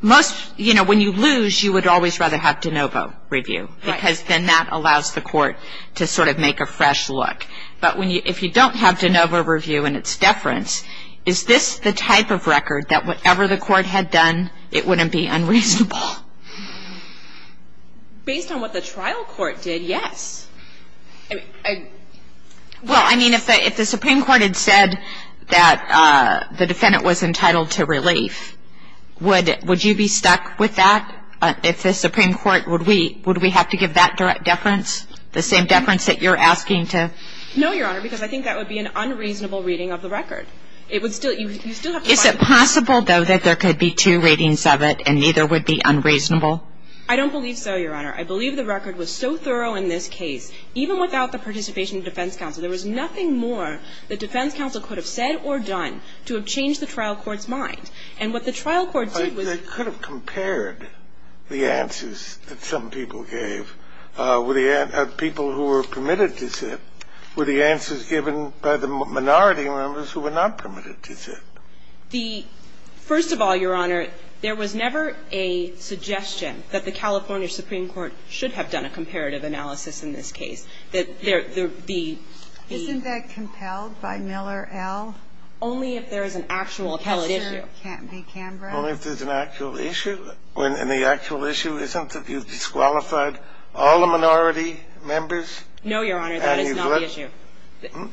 most, you know, when you lose, you would always rather have de novo review. Right. Because then that allows the court to sort of make a fresh look. But if you don't have de novo review and it's deference, is this the type of record that whatever the court had done, it wouldn't be unreasonable? Based on what the trial court did, yes. Well, I mean, if the Supreme Court had said that the defendant was entitled to relief, would you be stuck with that? If the Supreme Court, would we have to give that deference, the same deference that you're asking to? No, Your Honor, because I think that would be an unreasonable reading of the record. It would still, you would still have to find... Is it possible, though, that there could be two readings of it and neither would be unreasonable? I don't believe so, Your Honor. I believe the record was so thorough in this case, even without the participation of defense counsel, there was nothing more that defense counsel could have said or done to have changed the trial court's mind. And what the trial court did was... The answer that some people gave were the answers that people who were permitted to sit were the answers given by the minority members who were not permitted to sit. The – first of all, Your Honor, there was never a suggestion that the California Supreme Court should have done a comparative analysis in this case. That there – the... Isn't that compelled by Miller L.? Only if there is an actual appellate issue. Can't be Canberra? Only if there's an actual issue, and the actual issue isn't that you've disqualified all the minority members and you've let... No, Your Honor, that is not the issue.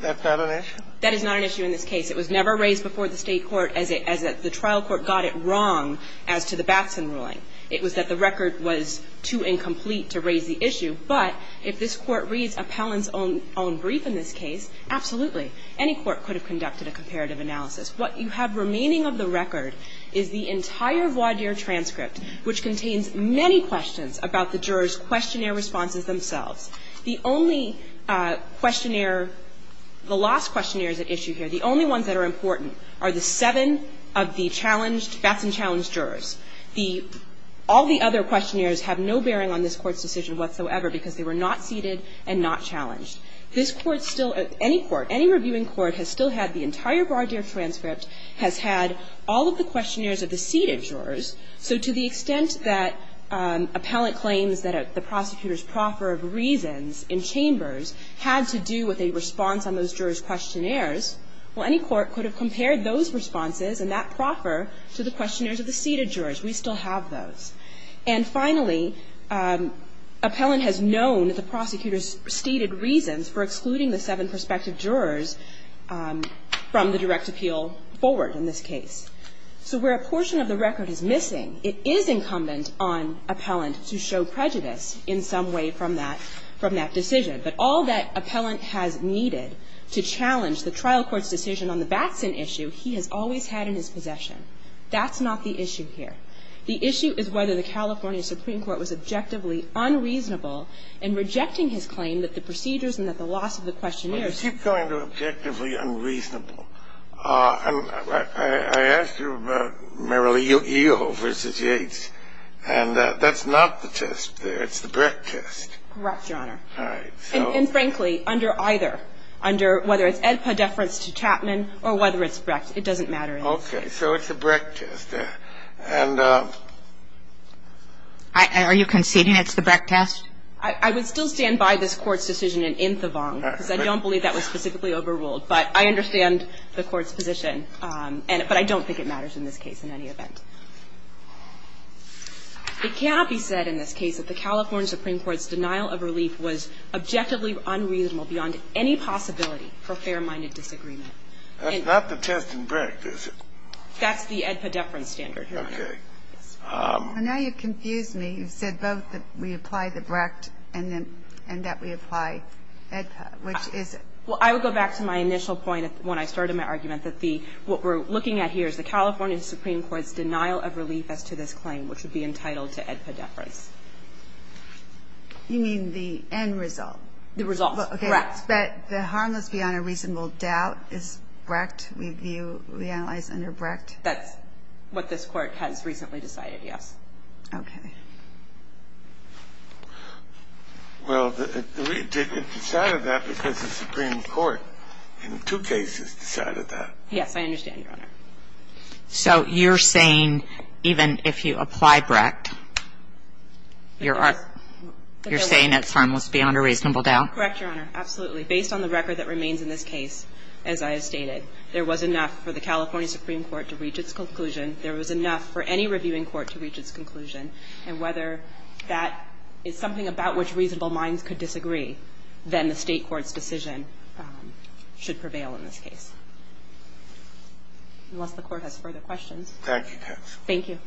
That's not an issue? That is not an issue in this case. It was never raised before the State court as the trial court got it wrong as to the Batson ruling. It was that the record was too incomplete to raise the issue. But if this Court reads Appellant's own brief in this case, absolutely, any court could have conducted a comparative analysis. What you have remaining of the record is the entire voir dire transcript, which contains many questions about the jurors' questionnaire responses themselves. The only questionnaire – the last questionnaire at issue here, the only ones that are important, are the seven of the challenged – Batson-challenged jurors. The – all the other questionnaires have no bearing on this Court's decision whatsoever because they were not seated and not challenged. This Court still – any court, any reviewing court has still had the entire voir dire transcript, has had all of the questionnaires of the seated jurors. So to the extent that Appellant claims that the prosecutor's proffer of reasons in chambers had to do with a response on those jurors' questionnaires, well, any court could have compared those responses and that proffer to the questionnaires of the seated jurors. We still have those. And finally, Appellant has known that the prosecutor's stated reasons for excluding the seven prospective jurors from the direct appeal forward in this case. So where a portion of the record is missing, it is incumbent on Appellant to show prejudice in some way from that – from that decision. But all that Appellant has needed to challenge the trial court's decision on the Batson issue, he has always had in his possession. That's not the issue here. The issue is whether the California Supreme Court was objectively unreasonable in rejecting his claim that the procedures and that the loss of the questionnaires – You keep going to objectively unreasonable. I asked you about Merrill E. O. v. Yates, and that's not the test there. It's the Brecht test. Correct, Your Honor. All right. And frankly, under either. Under whether it's Edpa deference to Chapman or whether it's Brecht. It doesn't matter. So it's a Brecht test. And Are you conceding it's the Brecht test? I would still stand by this Court's decision in Inthevong, because I don't believe that was specifically overruled. But I understand the Court's position. But I don't think it matters in this case in any event. It cannot be said in this case that the California Supreme Court's denial of relief was objectively unreasonable beyond any possibility for fair-minded disagreement. That's not the test in Brecht, is it? That's the Edpa deference standard, Your Honor. Okay. Well, now you've confused me. You've said both that we apply the Brecht and that we apply Edpa, which is it? Well, I would go back to my initial point when I started my argument that the – what we're looking at here is the California Supreme Court's denial of relief as to this claim, which would be entitled to Edpa deference. You mean the end result? The result. Brecht. That's what this Court has recently decided, yes. Okay. Well, it decided that because the Supreme Court in two cases decided that. Yes, I understand, Your Honor. So you're saying even if you apply Brecht, you're saying it's harmless beyond a reasonable doubt? Correct, Your Honor. Absolutely. Based on the record that remains in this case, as I have stated, there was enough for the California Supreme Court to reach its conclusion, there was enough for any reviewing court to reach its conclusion, and whether that is something about which reasonable minds could disagree, then the State court's decision should prevail in this case. Unless the Court has further questions. Thank you, Judge. Thank you.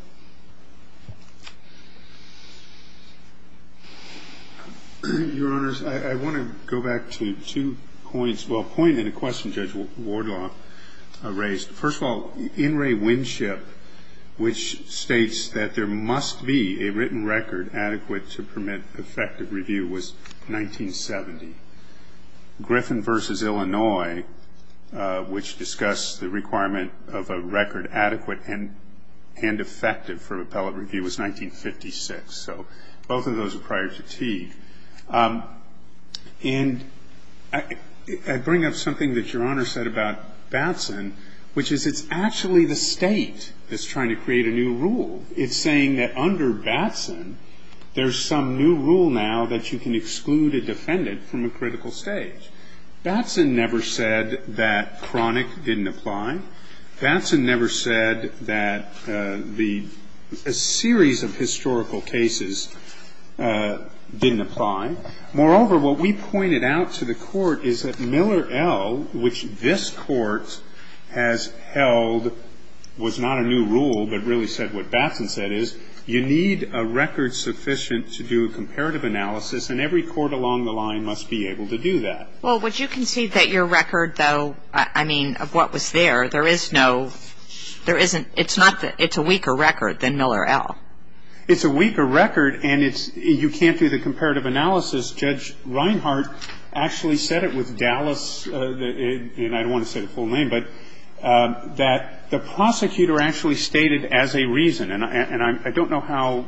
Your Honors, I want to go back to two points. Well, a point and a question Judge Wardlaw raised. First of all, In re Winship, which states that there must be a written record adequate to permit effective review, was 1970. Griffin v. Illinois, which discussed the requirement of a record adequate and effective for appellate review, was 1956. So both of those are prior to Teague. And I bring up something that Your Honor said about Batson, which is it's actually the State that's trying to create a new rule. It's saying that under Batson, there's some new rule now that you can exclude a defendant from a critical stage. Batson never said that chronic didn't apply. Batson never said that the series of historical cases didn't apply. Moreover, what we pointed out to the Court is that Miller L., which this Court has held was not a new rule, but really said what Batson said is you need a record sufficient to do a comparative analysis, and every court along the line must be able to do that. Well, would you concede that your record, though, I mean, of what was there, there is no, there isn't, it's not, it's a weaker record than Miller L. It's a weaker record, and it's, you can't do the comparative analysis. Judge Reinhart actually said it with Dallas, and I don't want to say the full name, but that the prosecutor actually stated as a reason, and I don't know how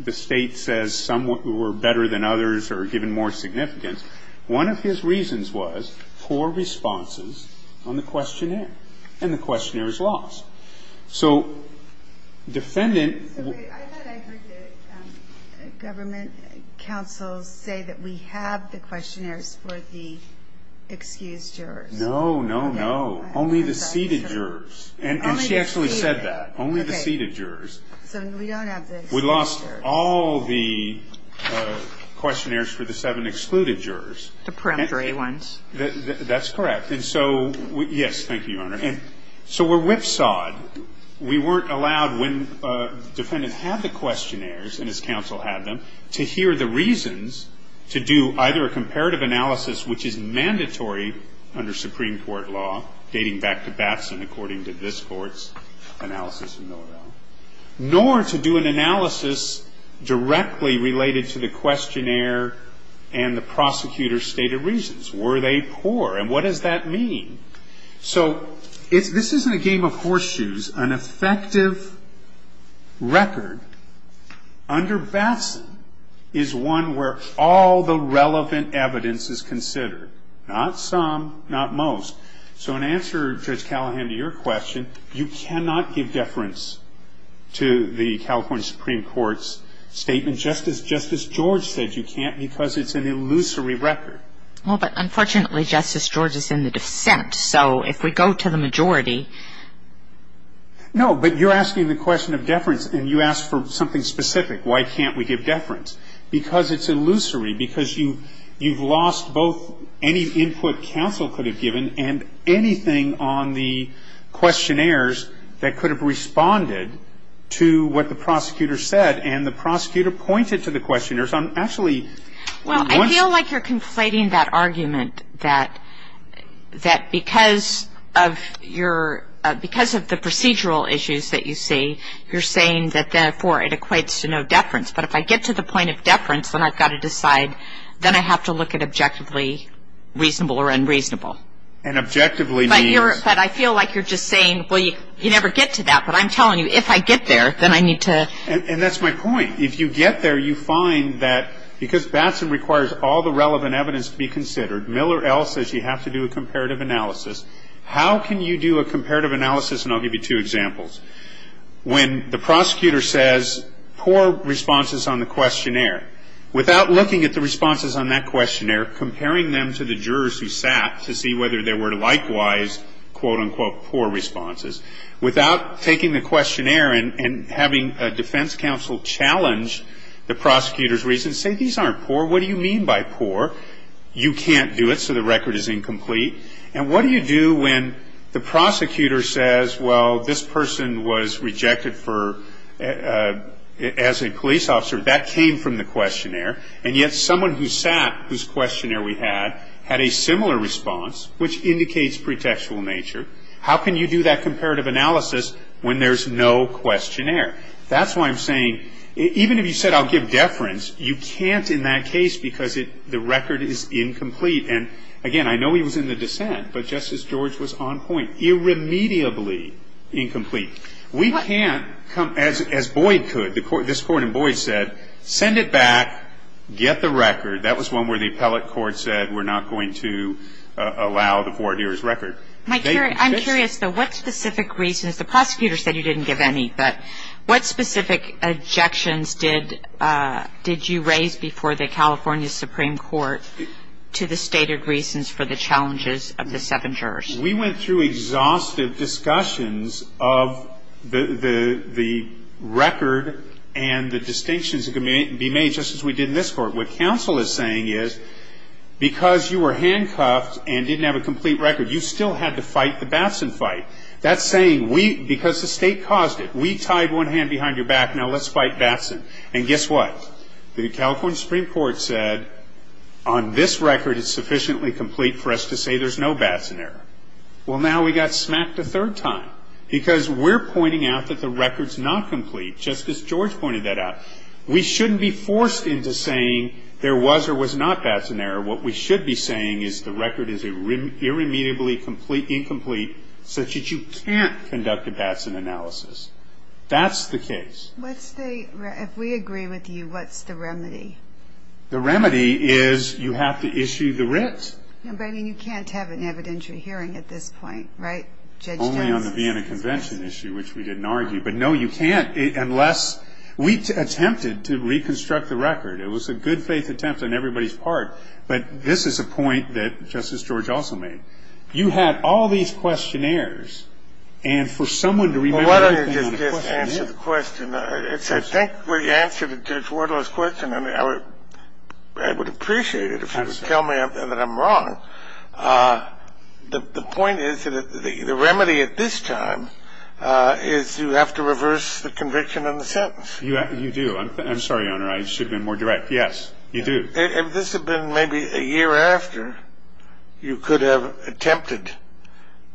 the State says some were better than others or given more significance. One of his reasons was poor responses on the questionnaire, and the questionnaire is lost. So defendant. I thought I heard the government counsel say that we have the questionnaires for the excused jurors. No, no, no, only the seated jurors, and she actually said that, only the seated jurors. So we don't have the. We lost all the questionnaires for the seven excluded jurors. The peremptory ones. That's correct. And so, yes, thank you, Your Honor. So we're whipsawed. We weren't allowed when the defendant had the questionnaires, and his counsel had them, to hear the reasons to do either a comparative analysis, which is mandatory under Supreme Court law, dating back to Batson according to this Court's analysis and know-it-all, nor to do an analysis directly related to the questionnaire and the prosecutor's stated reasons. Were they poor, and what does that mean? So this isn't a game of horseshoes. An effective record under Batson is one where all the relevant evidence is considered, not some, not most. So in answer, Judge Callahan, to your question, you cannot give deference to the California Supreme Court's statement just as Justice George said you can't because it's an illusory record. Well, but unfortunately, Justice George is in the dissent. So if we go to the majority. No, but you're asking the question of deference, and you asked for something specific. Why can't we give deference? Because it's illusory. Because you've lost both any input counsel could have given and anything on the questionnaires that could have responded to what the prosecutor said. And the prosecutor pointed to the questionnaires. I'm actually. Well, I feel like you're conflating that argument, that because of your, because of the procedural issues that you see, you're saying that, therefore, it equates to no deference. But if I get to the point of deference, then I've got to decide. Then I have to look at objectively reasonable or unreasonable. And objectively means. But I feel like you're just saying, well, you never get to that. But I'm telling you, if I get there, then I need to. And that's my point. If you get there, you find that because Batson requires all the relevant evidence to be considered, Miller L. says you have to do a comparative analysis. How can you do a comparative analysis? And I'll give you two examples. When the prosecutor says, poor responses on the questionnaire. Without looking at the responses on that questionnaire, comparing them to the jurors who sat to see whether there were likewise, quote, unquote, poor responses. Without taking the questionnaire and having a defense counsel challenge the prosecutor's reasons. Say, these aren't poor. What do you mean by poor? You can't do it, so the record is incomplete. And what do you do when the prosecutor says, well, this person was rejected for as a police officer. That came from the questionnaire. And yet someone who sat, whose questionnaire we had, had a similar response, which indicates pretextual nature. How can you do that comparative analysis when there's no questionnaire? That's why I'm saying, even if you said I'll give deference, you can't in that case because the record is incomplete. And, again, I know he was in the dissent, but Justice George was on point. Irremediably incomplete. We can't come, as Boyd could, this Court in Boyd said, send it back, get the record. That was one where the appellate court said we're not going to allow the four-year record. I'm curious, though, what specific reasons, the prosecutor said you didn't give any, but what specific objections did you raise before the California Supreme Court to the stated reasons for the challenges of the seven jurors? We went through exhaustive discussions of the record and the distinctions that could be made just as we did in this Court. What counsel is saying is because you were handcuffed and didn't have a complete record, you still had to fight the Batson fight. That's saying we, because the State caused it, we tied one hand behind your back, now let's fight Batson. And guess what? The California Supreme Court said on this record it's sufficiently complete for us to say there's no Batson error. Well, now we got smacked a third time because we're pointing out that the record's not complete, just as George pointed that out. We shouldn't be forced into saying there was or was not Batson error. What we should be saying is the record is irremediably incomplete such that you can't conduct a Batson analysis. That's the case. If we agree with you, what's the remedy? The remedy is you have to issue the writ. But you can't have an evidentiary hearing at this point, right, Judge Jones? Only on the Vienna Convention issue, which we didn't argue. But, no, you can't unless we attempted to reconstruct the record. It was a good-faith attempt on everybody's part. But this is a point that Justice George also made. You had all these questionnaires, and for someone to remember everything on the I think we answered Judge Wardle's question, and I would appreciate it if you would tell me that I'm wrong. The point is that the remedy at this time is you have to reverse the conviction and the sentence. You do. I'm sorry, Your Honor. I should have been more direct. Yes, you do. If this had been maybe a year after, you could have attempted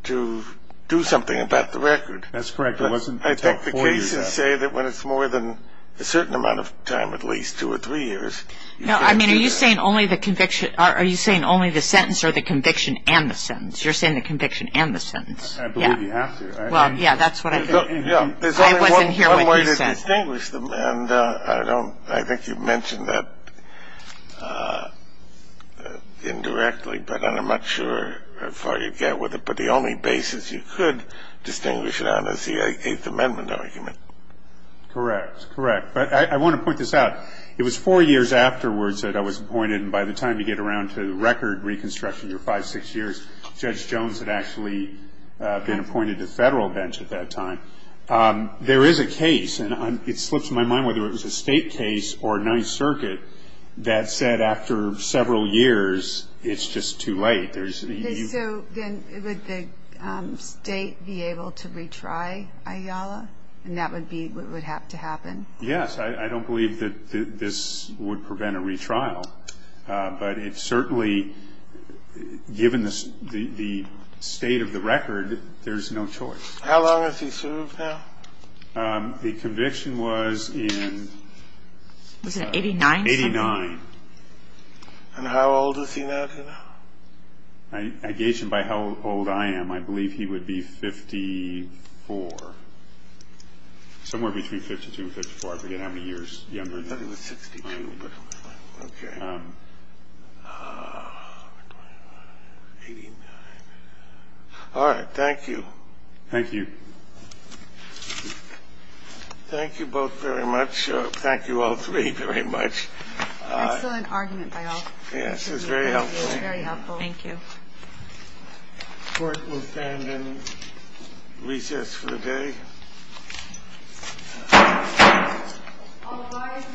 to do something about the record. That's correct. But I think the cases say that when it's more than a certain amount of time, at least two or three years. No, I mean, are you saying only the conviction or are you saying only the sentence or the conviction and the sentence? You're saying the conviction and the sentence. I believe you have to. Well, yeah, that's what I think. I wasn't hearing what you said. There's only one way to distinguish them, and I think you mentioned that indirectly, but I'm not sure how far you'd get with it. But the only basis you could distinguish it on is the Eighth Amendment argument. Correct. Correct. But I want to point this out. It was four years afterwards that I was appointed, and by the time you get around to record reconstruction, your five, six years, Judge Jones had actually been appointed to Federal bench at that time. There is a case, and it slips my mind whether it was a State case or a Ninth Circuit, that said after several years, it's just too late. So then would the State be able to retry Ayala, and that would be what would have to happen? Yes. I don't believe that this would prevent a retrial, but it certainly, given the state of the record, there's no choice. How long has he served now? The conviction was in 1989. And how old is he now? I gauge him by how old I am. I believe he would be 54, somewhere between 52 and 54. I forget how many years younger than that. I thought he was 62. Okay. All right. Thank you. Thank you. Thank you both very much. Thank you all three very much. Excellent argument by all. Yes. It was very helpful. Very helpful. Thank you. Court will stand and recess for the day. All rise for the Senate recess for the day.